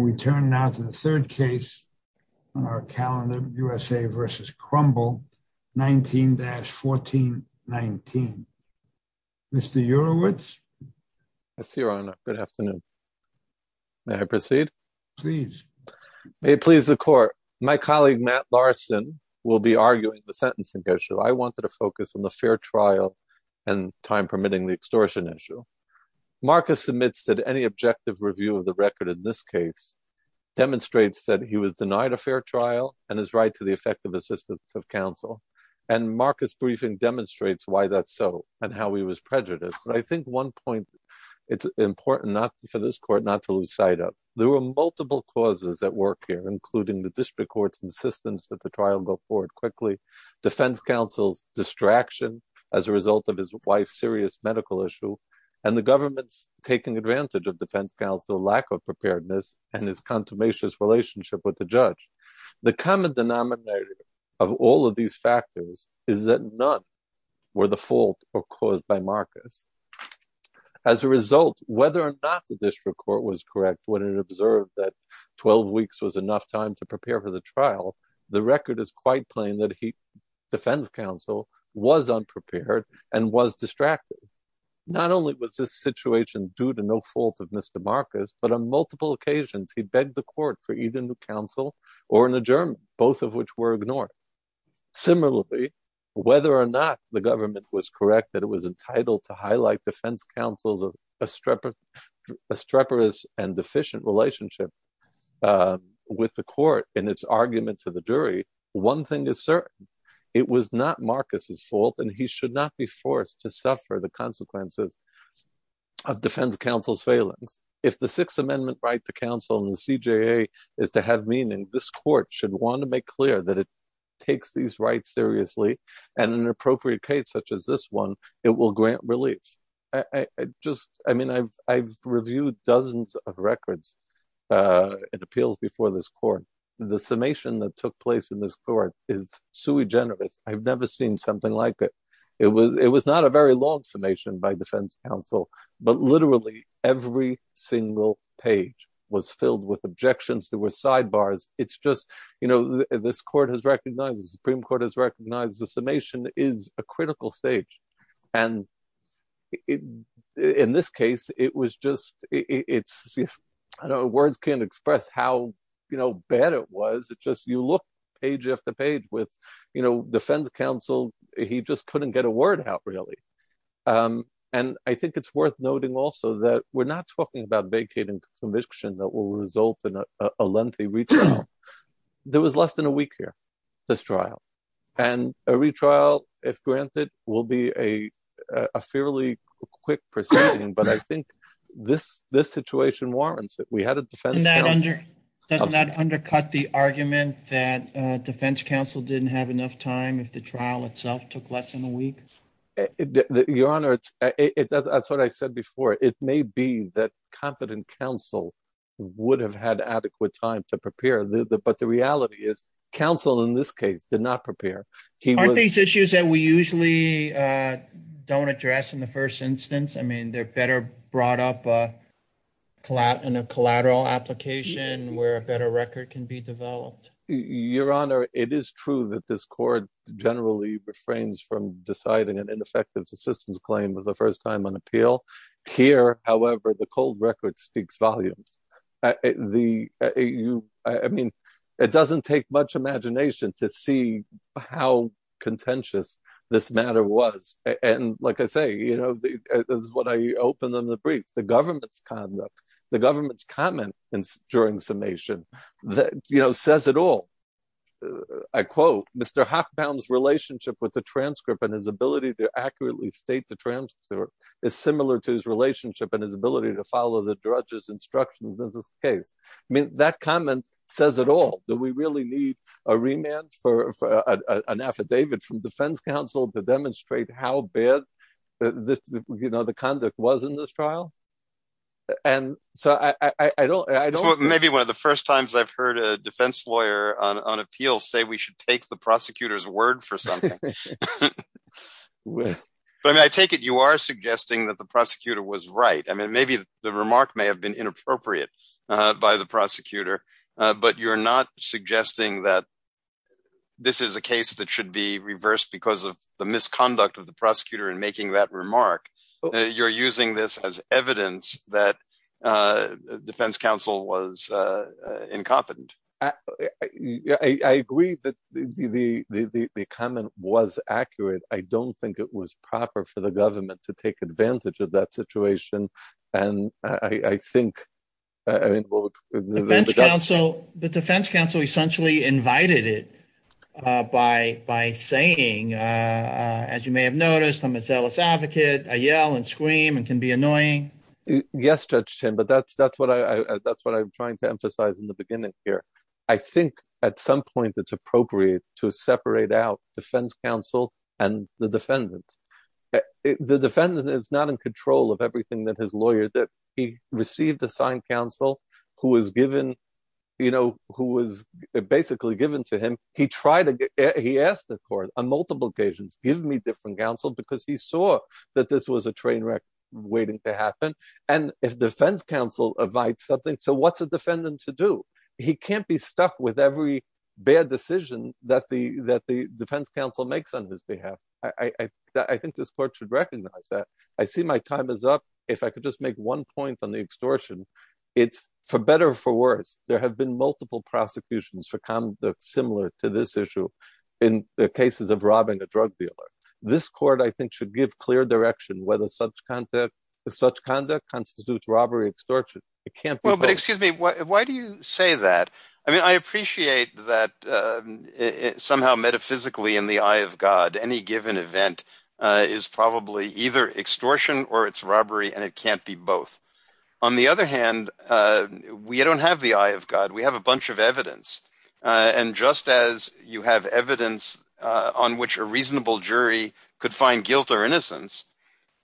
and we turn now to the third case on our calendar, USA v. Crumble, 19-1419. Mr. Urewicz? Yes, Your Honor. Good afternoon. May I proceed? Please. May it please the Court. My colleague, Matt Larson, will be arguing the sentencing issue. I wanted to focus on the fair trial and, time permitting, the extortion issue. Marcus admits that any objective review of the record in this case demonstrates that he was denied a fair trial and his right to the effective assistance of counsel. And Marcus' briefing demonstrates why that's so and how he was prejudiced. But I think one point, it's important for this Court not to lose sight of. There were multiple causes at work here, including the district court's insistence that the trial go forward quickly, defense counsel's distraction as a result of his wife's serious medical issue, and the government's taking advantage of defense counsel's lack of preparedness and his contumacious relationship with the judge. The common denominator of all of these factors is that none were the fault or cause by Marcus. As a result, whether or not the district court was correct when it observed that 12 weeks was enough time to prepare for the trial, the record is quite plain that defense counsel was unprepared and was distracted. Not only was this situation due to no fault of Mr. Marcus, but on multiple occasions he begged the court for either new counsel or an adjournment, both of which were ignored. Similarly, whether or not the government was correct that it was entitled to highlight defense counsel's streperous and deficient relationship with the court in its argument to the jury, one thing is certain. It was not Marcus's fault, and he should not be forced to suffer the consequences of defense counsel's failings. If the Sixth Amendment right to counsel in the CJA is to have meaning, this court should want to make clear that it takes these rights seriously, and in an appropriate case such as this one, it will grant relief. I mean, I've reviewed dozens of records and appeals before this court. The summation that took place in this court is sui generis. I've never seen something like it. It was not a very long summation by defense counsel, but literally every single page was filled with objections. There were sidebars. It's just, you know, this court has recognized, the Supreme Court has recognized the summation is a critical stage. And in this case, it was just, words can't express how bad it was. It just, you look page after page with, you know, defense counsel, he just couldn't get a word out really. And I think it's worth noting also that we're not talking about vacating conviction that will result in a lengthy retrial. There was less than a week here, this trial. And a retrial, if granted, will be a fairly quick proceeding. But I think this situation warrants it. We had a defense counsel. Doesn't that undercut the argument that defense counsel didn't have enough time if the trial itself took less than a week? Your Honor, that's what I said before. It may be that competent counsel would have had adequate time to prepare. But the reality is, counsel in this case did not prepare. Aren't these issues that we usually don't address in the first instance? I mean, they're better brought up in a collateral application where a better record can be developed. Your Honor, it is true that this court generally refrains from deciding an ineffective assistance claim for the first time on appeal. Here, however, the cold record speaks volumes. I mean, it doesn't take much imagination to see how contentious this matter was. And like I say, you know, this is what I opened in the brief. The government's conduct, the government's comments during summation, you know, says it all. I quote Mr. Hoffman's relationship with the transcript and his ability to accurately state the transcript is similar to his relationship and his ability to follow the judge's instructions in this case. I mean, that comment says it all. Do we really need a remand for an affidavit from defense counsel to demonstrate how bad this, you know, the conduct was in this trial? And so I don't I don't maybe one of the first times I've heard a defense lawyer on appeal say we should take the prosecutor's word for something. But I take it you are suggesting that the prosecutor was right. I mean, maybe the remark may have been inappropriate by the prosecutor, but you're not suggesting that. This is a case that should be reversed because of the misconduct of the prosecutor in making that remark. You're using this as evidence that defense counsel was incompetent. I agree that the comment was accurate. I don't think it was proper for the government to take advantage of that situation. And I think the defense counsel essentially invited it by by saying, as you may have noticed, I'm a zealous advocate. I yell and scream and can be annoying. Yes, Judge Tim, but that's that's what I that's what I'm trying to emphasize in the beginning here. I think at some point it's appropriate to separate out defense counsel and the defendant. The defendant is not in control of everything that his lawyer did. He received assigned counsel who was given, you know, who was basically given to him. He tried to get he asked the court on multiple occasions, give me different counsel, because he saw that this was a train wreck waiting to happen. And if defense counsel invites something. So what's a defendant to do? He can't be stuck with every bad decision that the that the defense counsel makes on his behalf. I think this court should recognize that. I see my time is up. If I could just make one point on the extortion, it's for better or for worse. There have been multiple prosecutions for conduct similar to this issue in the cases of robbing a drug dealer. This court, I think, should give clear direction whether such conduct such conduct constitutes robbery extortion. It can't be. But excuse me, why do you say that? I mean, I appreciate that somehow metaphysically in the eye of God, any given event is probably either extortion or it's robbery and it can't be both. On the other hand, we don't have the eye of God. We have a bunch of evidence. And just as you have evidence on which a reasonable jury could find guilt or innocence.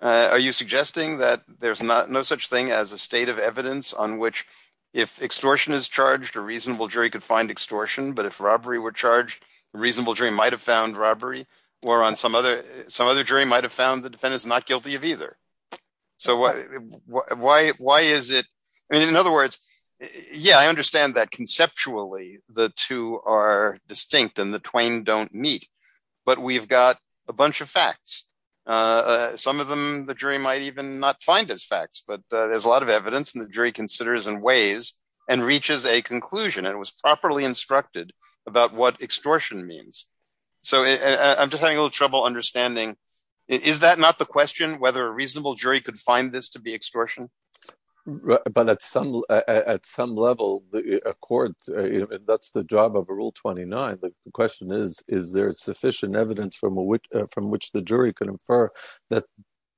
Are you suggesting that there's not no such thing as a state of evidence on which if extortion is charged, a reasonable jury could find extortion. But if robbery were charged, a reasonable jury might have found robbery or on some other some other jury might have found the defendants not guilty of either. So why is it? In other words, yeah, I understand that conceptually the two are distinct and the twain don't meet, but we've got a bunch of facts. Some of them the jury might even not find as facts, but there's a lot of evidence in the jury considers in ways and reaches a conclusion and was properly instructed about what extortion means. So I'm just having a little trouble understanding. Is that not the question, whether a reasonable jury could find this to be extortion? But at some at some level, the court, that's the job of a rule. Twenty nine. The question is, is there sufficient evidence from which from which the jury can infer that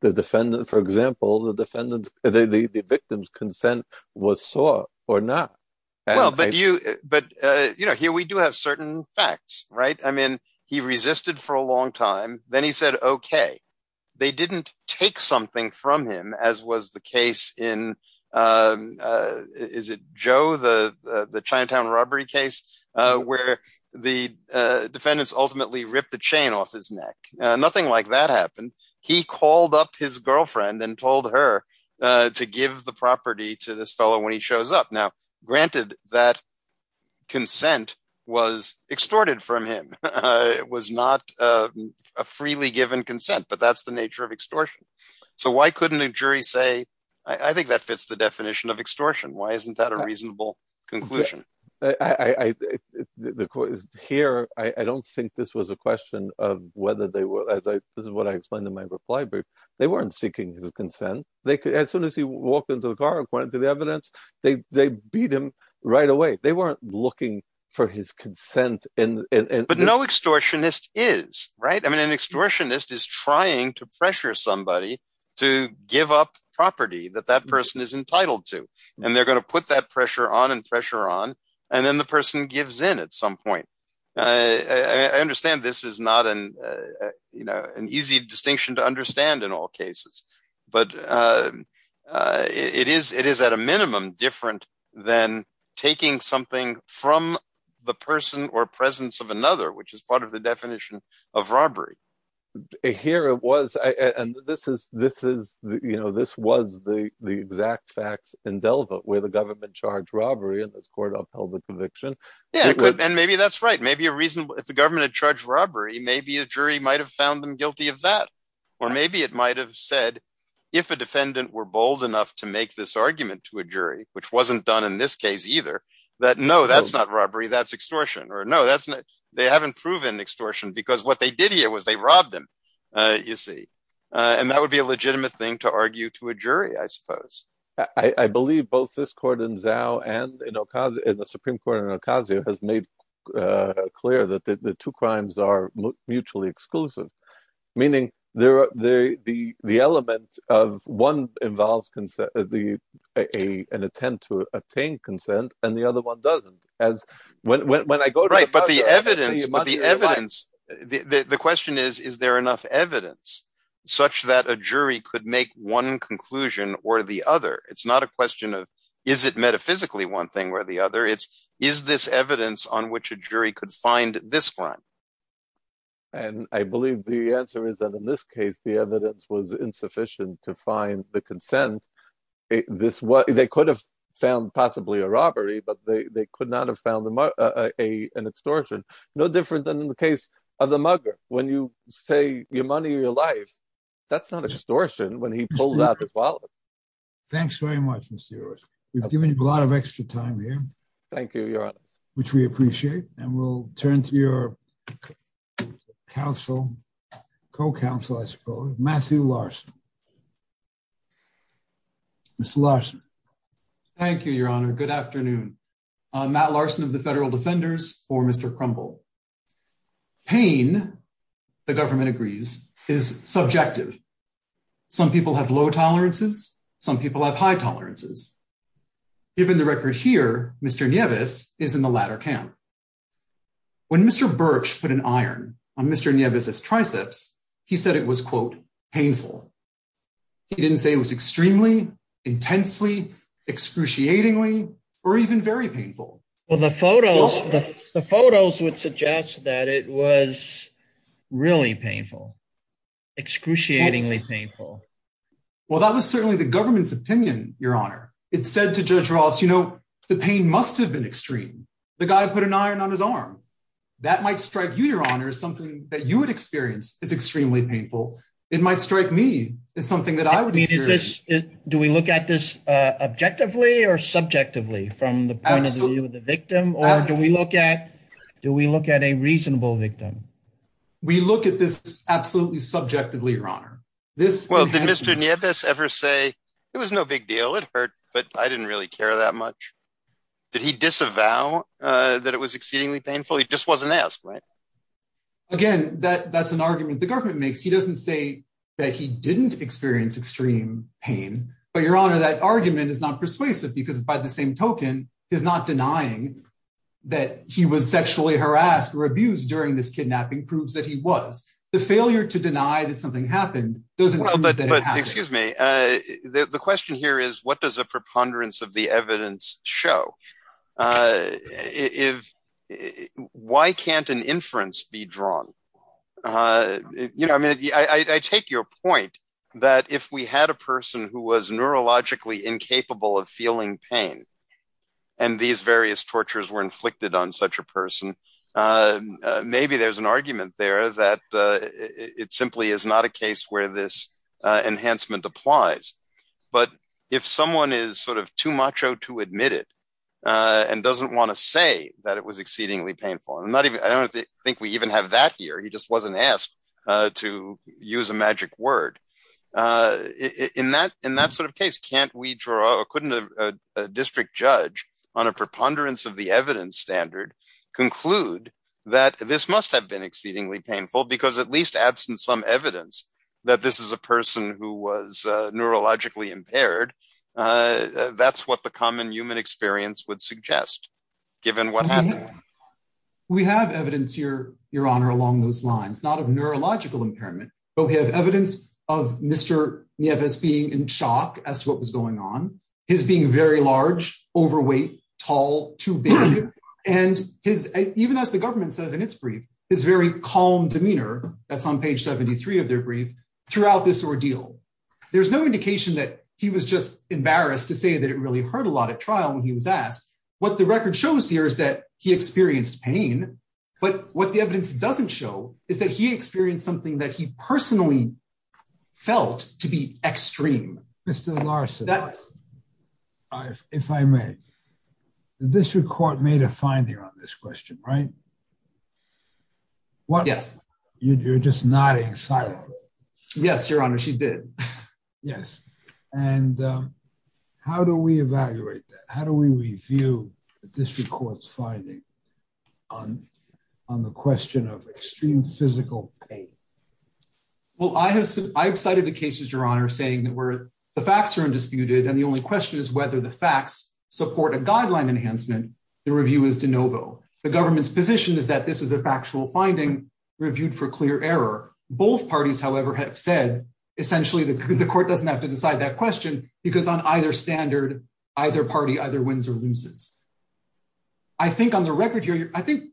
the defendant, for example, the defendant, the victim's consent was saw or not? Well, but you but here we do have certain facts. Right. I mean, he resisted for a long time. Then he said, OK, they didn't take something from him, as was the case in. Is it Joe, the the Chinatown robbery case where the defendants ultimately ripped the chain off his neck? Nothing like that happened. He called up his girlfriend and told her to give the property to this fellow when he shows up. Now, granted, that consent was extorted from him. It was not a freely given consent, but that's the nature of extortion. So why couldn't a jury say, I think that fits the definition of extortion? Why isn't that a reasonable conclusion? I think the court is here. I don't think this was a question of whether they were. This is what I explained in my reply. They weren't seeking his consent. They could as soon as he walked into the car, according to the evidence, they beat him right away. They weren't looking for his consent. But no extortionist is. Right. I mean, an extortionist is trying to pressure somebody to give up property that that person is entitled to. And they're going to put that pressure on and pressure on. And then the person gives in at some point. I understand this is not an easy distinction to understand in all cases. But it is it is at a minimum different than taking something from the person or presence of another, which is part of the definition of robbery. Here it was. And this is this is you know, this was the the exact facts in Delva where the government charged robbery. And this court upheld the conviction. And maybe that's right. Maybe a reason. If the government had charged robbery, maybe a jury might have found them guilty of that. Or maybe it might have said if a defendant were bold enough to make this argument to a jury, which wasn't done in this case either. That no, that's not robbery. That's extortion. Or no, that's not. They haven't proven extortion because what they did here was they robbed him. You see. And that would be a legitimate thing to argue to a jury, I suppose. I believe both this court in Zao and in the Supreme Court in Ocasio has made clear that the two crimes are mutually exclusive, meaning the element of one involves an attempt to obtain consent and the other one doesn't. But the evidence, the evidence, the question is, is there enough evidence such that a jury could make one conclusion or the other? It's not a question of is it metaphysically one thing or the other? It's is this evidence on which a jury could find this crime? And I believe the answer is that in this case, the evidence was insufficient to find the consent. They could have found possibly a robbery, but they could not have found an extortion. No different than in the case of the mugger. When you say your money, your life, that's not extortion. When he pulls out his wallet. Thanks very much, Mr. We've given you a lot of extra time here. Thank you. Which we appreciate. And we'll turn to your counsel, co-counsel, I suppose. Matthew Larson. Mr. Larson. Thank you, Your Honor. Good afternoon. Matt Larson of the Federal Defenders for Mr. Crumble. Pain, the government agrees, is subjective. Some people have low tolerances. Some people have high tolerances. Given the record here, Mr. Nieves is in the latter camp. When Mr. Birch put an iron on Mr. Nieves' triceps, he said it was, quote, painful. He didn't say it was extremely, intensely, excruciatingly, or even very painful. Well, the photos, the photos would suggest that it was really painful, excruciatingly painful. Well, that was certainly the government's opinion, Your Honor. It said to Judge Ross, you know, the pain must have been extreme. The guy put an iron on his arm. That might strike you, Your Honor, as something that you would experience as extremely painful. It might strike me as something that I would experience. Do we look at this objectively or subjectively from the point of view of the victim? Or do we look at, do we look at a reasonable victim? We look at this absolutely subjectively, Your Honor. Well, did Mr. Nieves ever say, it was no big deal, it hurt, but I didn't really care that much? Did he disavow that it was exceedingly painful? He just wasn't asked, right? Again, that's an argument the government makes. He doesn't say that he didn't experience extreme pain. But, Your Honor, that argument is not persuasive because by the same token, he's not denying that he was sexually harassed or abused during this kidnapping proves that he was. The failure to deny that something happened doesn't mean that it happened. Excuse me. The question here is, what does a preponderance of the evidence show? Why can't an inference be drawn? I mean, I take your point that if we had a person who was neurologically incapable of feeling pain, and these various tortures were inflicted on such a person, maybe there's an argument there that it simply is not a case where this enhancement applies. But if someone is sort of too macho to admit it and doesn't want to say that it was exceedingly painful, I don't think we even have that here. He just wasn't asked to use a magic word. In that sort of case, couldn't a district judge on a preponderance of the evidence standard conclude that this must have been exceedingly painful because at least absent some evidence that this is a person who was neurologically impaired, that's what the common human experience would suggest, given what happened. We have evidence, Your Honor, along those lines, not of neurological impairment, but we have evidence of Mr. Nieves being in shock as to what was going on, his being very large, overweight, tall, too big, and even as the government says in its brief, his very calm demeanor, that's on page 73 of their brief, throughout this ordeal. There's no indication that he was just embarrassed to say that it really hurt a lot at trial when he was asked. What the record shows here is that he experienced pain, but what the evidence doesn't show is that he experienced something that he personally felt to be extreme. Mr. Larson, if I may, the district court made a finding on this question, right? Yes. You're just nodding silently. Yes, Your Honor, she did. Yes. And how do we evaluate that? How do we review the district court's finding on the question of extreme physical pain? Well, I have cited the cases, Your Honor, saying that the facts are undisputed, and the only question is whether the facts support a guideline enhancement. The review is de novo. The government's position is that this is a factual finding reviewed for clear error. Both parties, however, have said essentially the court doesn't have to decide that question because on either standard, either party either wins or loses. I think on the record here, I think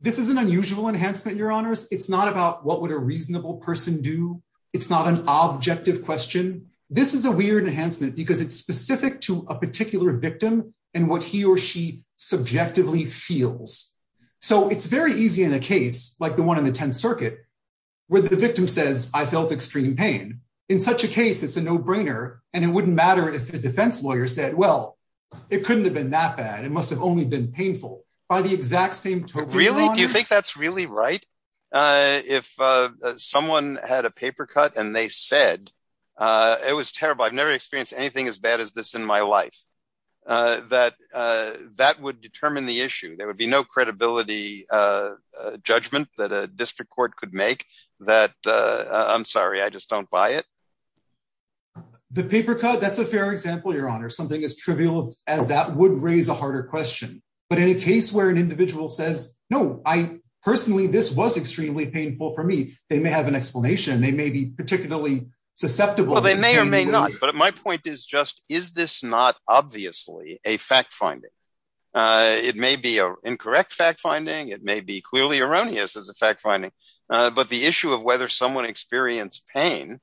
this is an unusual enhancement, Your Honors. It's not about what would a reasonable person do. It's not an objective question. This is a weird enhancement because it's specific to a particular victim and what he or she subjectively feels. So it's very easy in a case like the one in the Tenth Circuit where the victim says, I felt extreme pain. In such a case, it's a no-brainer, and it wouldn't matter if the defense lawyer said, well, it couldn't have been that bad. It must have only been painful. Really? Do you think that's really right? If someone had a paper cut and they said, it was terrible, I've never experienced anything as bad as this in my life, that that would determine the issue. There would be no credibility judgment that a district court could make that, I'm sorry, I just don't buy it. The paper cut, that's a fair example, Your Honor. Something as trivial as that would raise a harder question. But in a case where an individual says, no, personally, this was extremely painful for me, they may have an explanation. They may be particularly susceptible. They may or may not. But my point is just, is this not obviously a fact-finding? It may be an incorrect fact-finding. It may be clearly erroneous as a fact-finding. But the issue of whether someone experienced pain,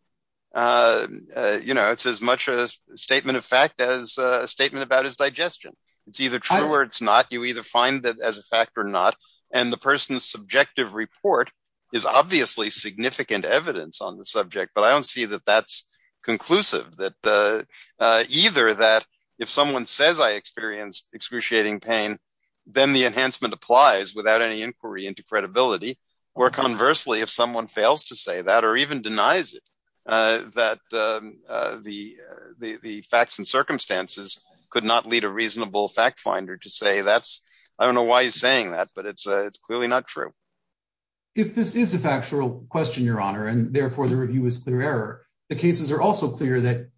it's as much a statement of fact as a statement about his digestion. It's either true or it's not. You either find that as a fact or not. And the person's subjective report is obviously significant evidence on the subject. But I don't see that that's conclusive, that either that if someone says I experienced excruciating pain, then the enhancement applies without any inquiry into credibility. Or conversely, if someone fails to say that or even denies it, that the facts and circumstances could not lead a reasonable fact-finder to say that's, I don't know why he's saying that, but it's clearly not true. If this is a factual question, Your Honor, and therefore the review is clear error, the cases are also clear that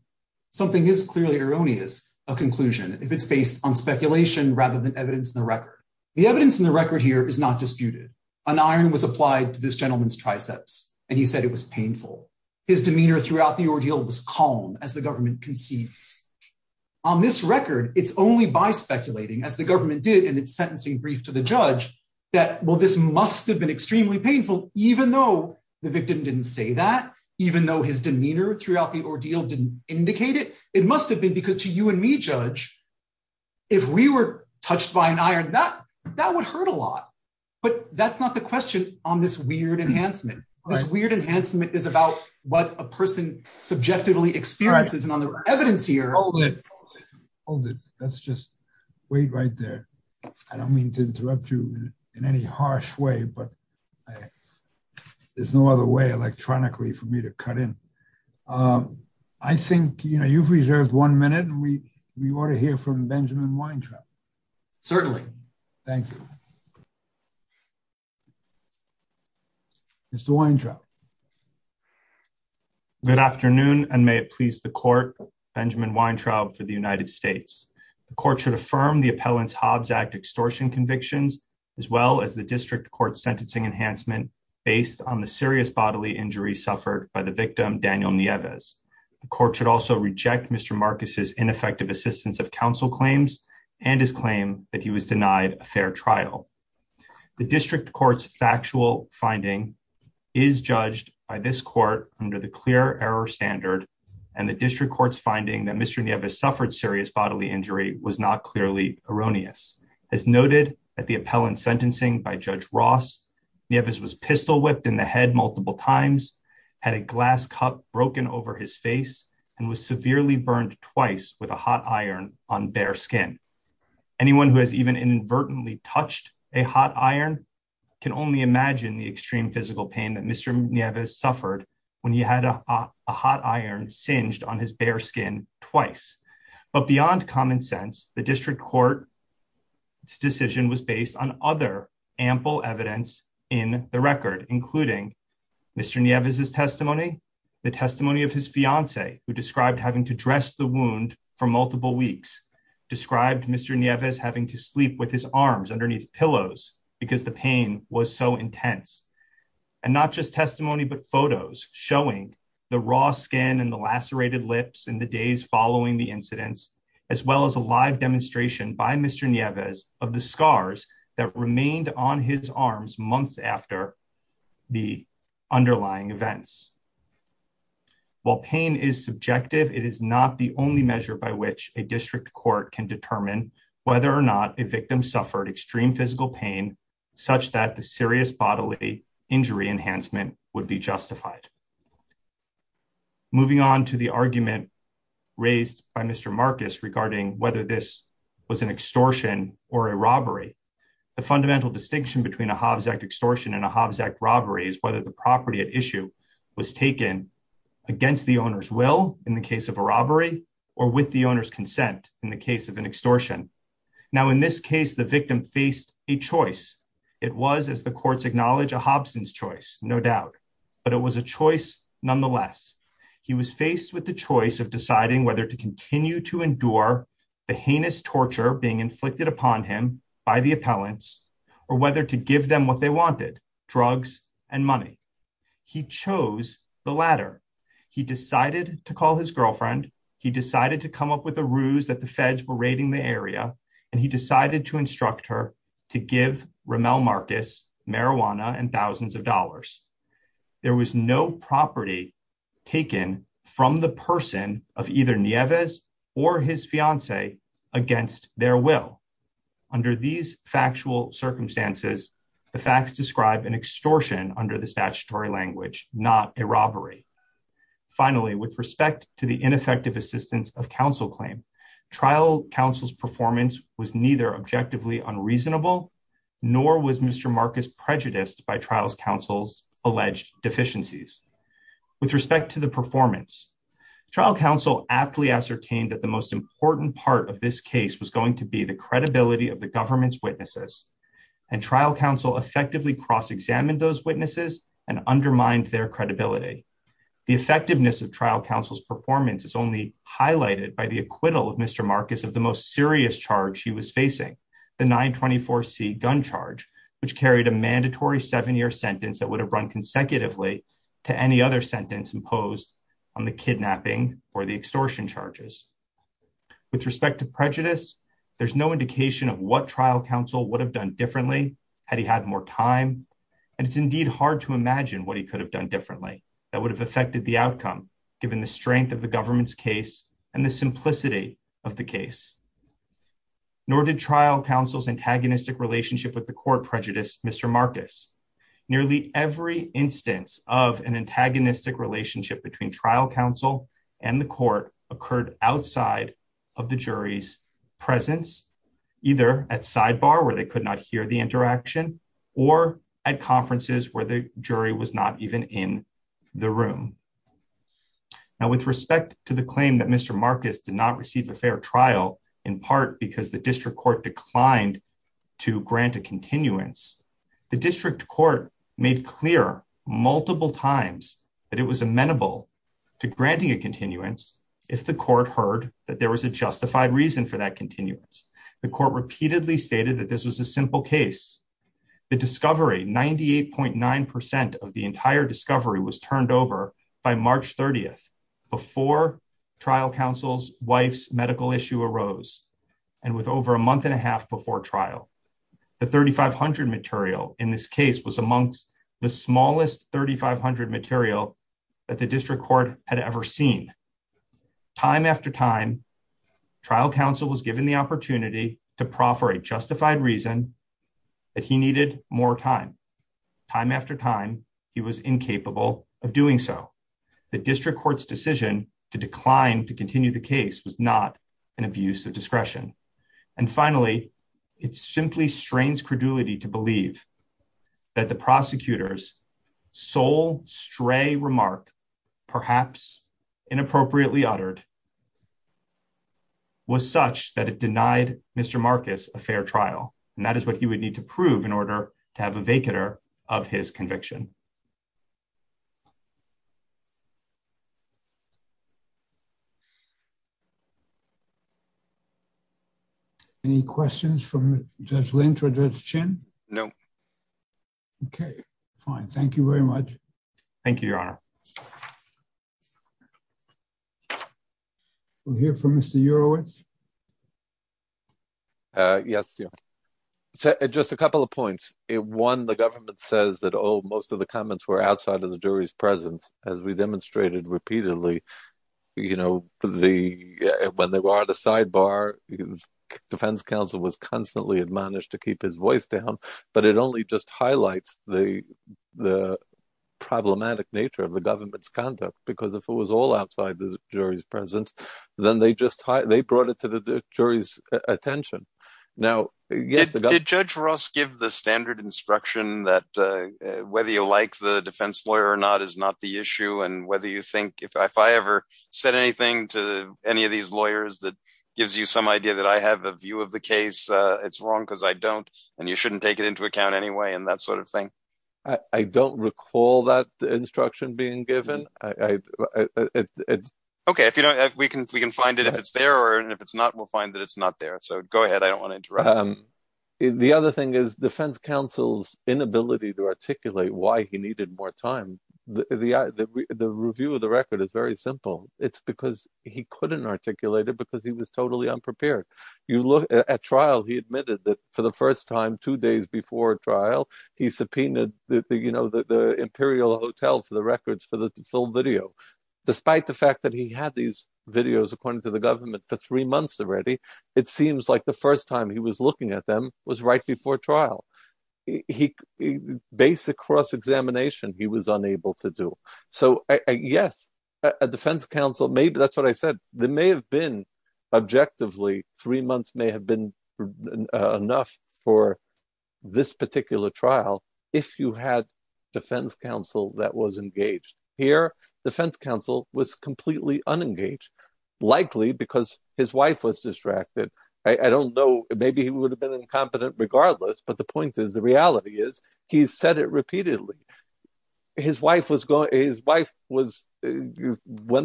something is clearly erroneous, a conclusion, if it's based on speculation rather than evidence in the record. The evidence in the record here is not disputed. An iron was applied to this gentleman's triceps, and he said it was painful. His demeanor throughout the ordeal was calm as the government concedes. On this record, it's only by speculating, as the government did in its sentencing brief to the judge, that, well, this must have been extremely painful, even though the victim didn't say that, even though his demeanor throughout the ordeal didn't indicate it. It must have been because to you and me, Judge, if we were touched by an iron, that would hurt a lot. But that's not the question on this weird enhancement. This weird enhancement is about what a person subjectively experiences, and on the evidence here. Hold it. Hold it. Let's just wait right there. I don't mean to interrupt you in any harsh way, but there's no other way electronically for me to cut in. I think, you know, you've reserved one minute, and we ought to hear from Benjamin Weintraub. Certainly. Thank you. Mr. Weintraub. Good afternoon, and may it please the court, Benjamin Weintraub for the United States. The court should affirm the appellant's Hobbs Act extortion convictions, as well as the district court's sentencing enhancement based on the serious bodily injury suffered by the victim, Daniel Nieves. The court should also reject Mr. Marcus's ineffective assistance of counsel claims and his claim that he was denied a fair trial. The district court's factual finding is judged by this court under the clear error standard, and the district court's finding that Mr. Nieves suffered serious bodily injury was not clearly erroneous. As noted at the appellant's sentencing by Judge Ross, Nieves was pistol whipped in the head multiple times, had a glass cup broken over his face, and was severely burned twice with a hot iron on bare skin. Anyone who has even inadvertently touched a hot iron can only imagine the extreme physical pain that Mr. Nieves suffered when he had a hot iron singed on his bare skin twice. But beyond common sense, the district court's decision was based on other ample evidence in the record, including Mr. Nieves' testimony, the testimony of his fiancée, who described having to dress the wound for multiple weeks, described Mr. Nieves having to sleep with his arms underneath pillows because the pain was so intense, and not just testimony but photos showing the raw skin and the lacerated lips in the days following the incidents, as well as a live demonstration by Mr. Nieves of the scars that remained on his arms months after the underlying events. While pain is subjective, it is not the only measure by which a district court can determine whether or not a victim suffered extreme physical pain such that the serious bodily injury enhancement would be justified. Moving on to the argument raised by Mr. Marcus regarding whether this was an extortion or a robbery, the fundamental distinction between a Hobbs Act extortion and a Hobbs Act robbery is whether the property at issue was taken against the owner's will in the case of a robbery, or with the owner's consent in the case of an extortion. Now, in this case, the victim faced a choice. It was, as the courts acknowledge, a Hobson's choice, no doubt, but it was a choice nonetheless. He was faced with the choice of deciding whether to continue to endure the heinous torture being inflicted upon him by the appellants, or whether to give them what they wanted, drugs and money. He chose the latter. He decided to call his girlfriend, he decided to come up with a ruse that the feds were raiding the area, and he decided to instruct her to give Ramel Marcus marijuana and thousands of dollars. There was no property taken from the person of either Nieves or his fiancee against their will. Under these factual circumstances, the facts describe an extortion under the statutory language, not a robbery. Finally, with respect to the ineffective assistance of counsel claim, trial counsel's performance was neither objectively unreasonable, nor was Mr. Marcus prejudiced by trials counsel's alleged deficiencies. With respect to the performance, trial counsel aptly ascertained that the most important part of this case was going to be the credibility of the government's witnesses, and trial counsel effectively cross examined those witnesses and undermined their credibility. The effectiveness of trial counsel's performance is only highlighted by the acquittal of Mr. Marcus of the most serious charge he was facing, the 924 C gun charge, which carried a mandatory seven-year sentence that would have run consecutively to any other sentence imposed on the kidnapping or the extortion charges. With respect to prejudice, there's no indication of what trial counsel would have done differently had he had more time, and it's indeed hard to imagine what he could have done differently that would have affected the outcome, given the strength of the government's case and the simplicity of the case. Nor did trial counsel's antagonistic relationship with the court prejudice Mr. Marcus. Nearly every instance of an antagonistic relationship between trial counsel and the court occurred outside of the jury's presence, either at sidebar where they could not hear the interaction or at conferences where the jury was not even in the room. Now with respect to the claim that Mr. Marcus did not receive a fair trial, in part because the district court declined to grant a continuance, the district court made clear multiple times that it was amenable to granting a continuance if the court heard that there was a justified reason for that continuance. The court repeatedly stated that this was a simple case. The discovery, 98.9% of the entire discovery was turned over by March 30th, before trial counsel's wife's medical issue arose, and with over a month and a half before trial. The 3500 material in this case was amongst the smallest 3500 material that the district court had ever seen. Time after time, trial counsel was given the opportunity to proffer a justified reason that he needed more time. Time after time, he was incapable of doing so. The district court's decision to decline to continue the case was not an abuse of discretion. And finally, it simply strains credulity to believe that the prosecutor's sole stray remark, perhaps inappropriately uttered, was such that it denied Mr. Marcus a fair trial. And that is what he would need to prove in order to have a vacater of his conviction. Any questions from Judge Lynch or Judge Chin? No. Okay, fine. Thank you very much. Thank you, Your Honor. We'll hear from Mr. Urowitz. Yes, just a couple of points. One, the government says that most of the comments were outside of the jury's presence, as we demonstrated repeatedly. You know, when they were at the sidebar, defense counsel was constantly admonished to keep his voice down. But it only just highlights the problematic nature of the government's conduct. Because if it was all outside the jury's presence, then they brought it to the jury's attention. Did Judge Ross give the standard instruction that whether you like the defense lawyer or not is not the issue, and if I ever said anything to any of these lawyers that gives you some idea that I have a view of the case, it's wrong because I don't, and you shouldn't take it into account anyway, and that sort of thing? I don't recall that instruction being given. Okay, we can find it if it's there, and if it's not, we'll find that it's not there. So go ahead, I don't want to interrupt. The other thing is defense counsel's inability to articulate why he needed more time. The review of the record is very simple. It's because he couldn't articulate it because he was totally unprepared. At trial, he admitted that for the first time, two days before trial, he subpoenaed the Imperial Hotel for the records for the full video. Despite the fact that he had these videos, according to the government, for three months already, it seems like the first time he was looking at them was right before trial. Basic cross-examination, he was unable to do. So yes, a defense counsel, maybe that's what I said. There may have been, objectively, three months may have been enough for this particular trial if you had defense counsel that was engaged. Here, defense counsel was completely unengaged, likely because his wife was distracted. I don't know, maybe he would have been incompetent regardless, but the point is, the reality is, he said it repeatedly. His wife went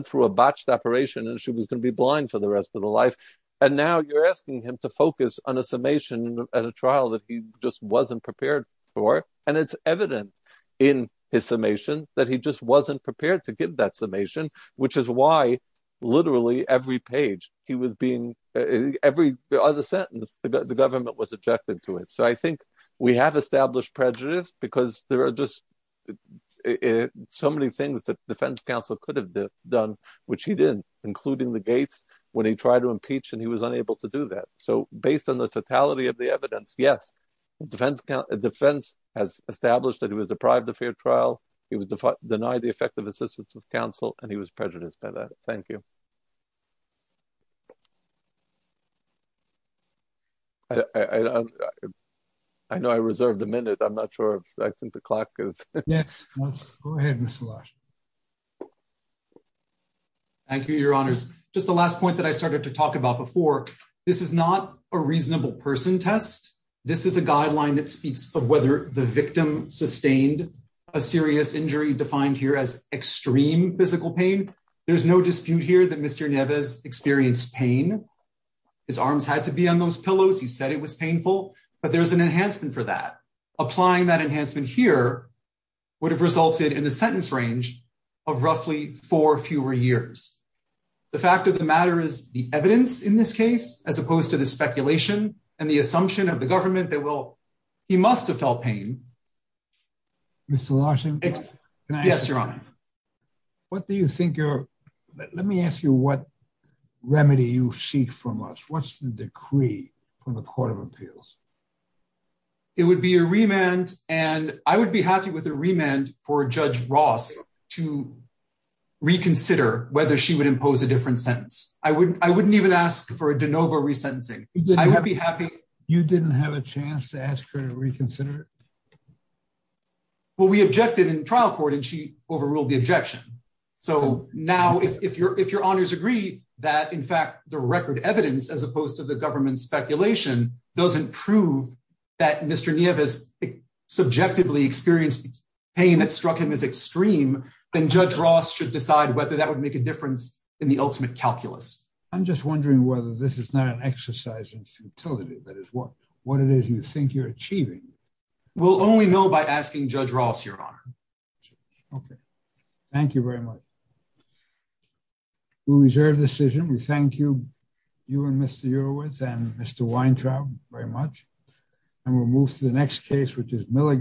through a botched operation and she was going to be blind for the rest of her life, and now you're asking him to focus on a summation at a trial that he just wasn't prepared for, and it's evident in his summation that he just wasn't prepared to give that summation, which is why literally every page he was being, every other sentence, the government was objecting to it. So I think we have established prejudice because there are just so many things that defense counsel could have done, which he didn't, including the gates when he tried to impeach and he was unable to do that. So based on the totality of the evidence, yes, defense has established that he was deprived of fair trial. He was denied the effective assistance of counsel, and he was prejudiced by that. Thank you. I know I reserved a minute. I'm not sure. I think the clock is. Yes, go ahead, Mr. Lodge. Thank you, Your Honors. Just the last point that I started to talk about before. This is not a reasonable person test. This is a guideline that speaks of whether the victim sustained a serious injury defined here as extreme physical pain. There's no dispute here that Mr. Neves experienced pain. His arms had to be on those pillows. He said it was painful, but there's an enhancement for that. Applying that enhancement here would have resulted in a sentence range of roughly four or fewer years. The fact of the matter is the evidence in this case, as opposed to the speculation and the assumption of the government that will. He must have felt pain. Mr. Larson. Yes, Your Honor. What do you think you're. Let me ask you what remedy you seek from us. What's the decree from the Court of Appeals? It would be a remand and I would be happy with a remand for Judge Ross to reconsider whether she would impose a different sentence. I wouldn't I wouldn't even ask for a de novo resentencing. I would be happy. You didn't have a chance to ask her to reconsider. Well, we objected in trial court and she overruled the objection. So now, if you're if your honors agree that, in fact, the record evidence, as opposed to the government speculation, doesn't prove that Mr. Neves subjectively experienced pain that struck him as extreme, then Judge Ross should decide whether that would make a difference in the ultimate calculus. I'm just wondering whether this is not an exercise in futility. That is what what it is you think you're achieving. We'll only know by asking Judge Ross, Your Honor. OK, thank you very much. We reserve decision. We thank you. You and Mr. Eurowith and Mr. Weintraub very much. And we'll move to the next case, which is Milligan.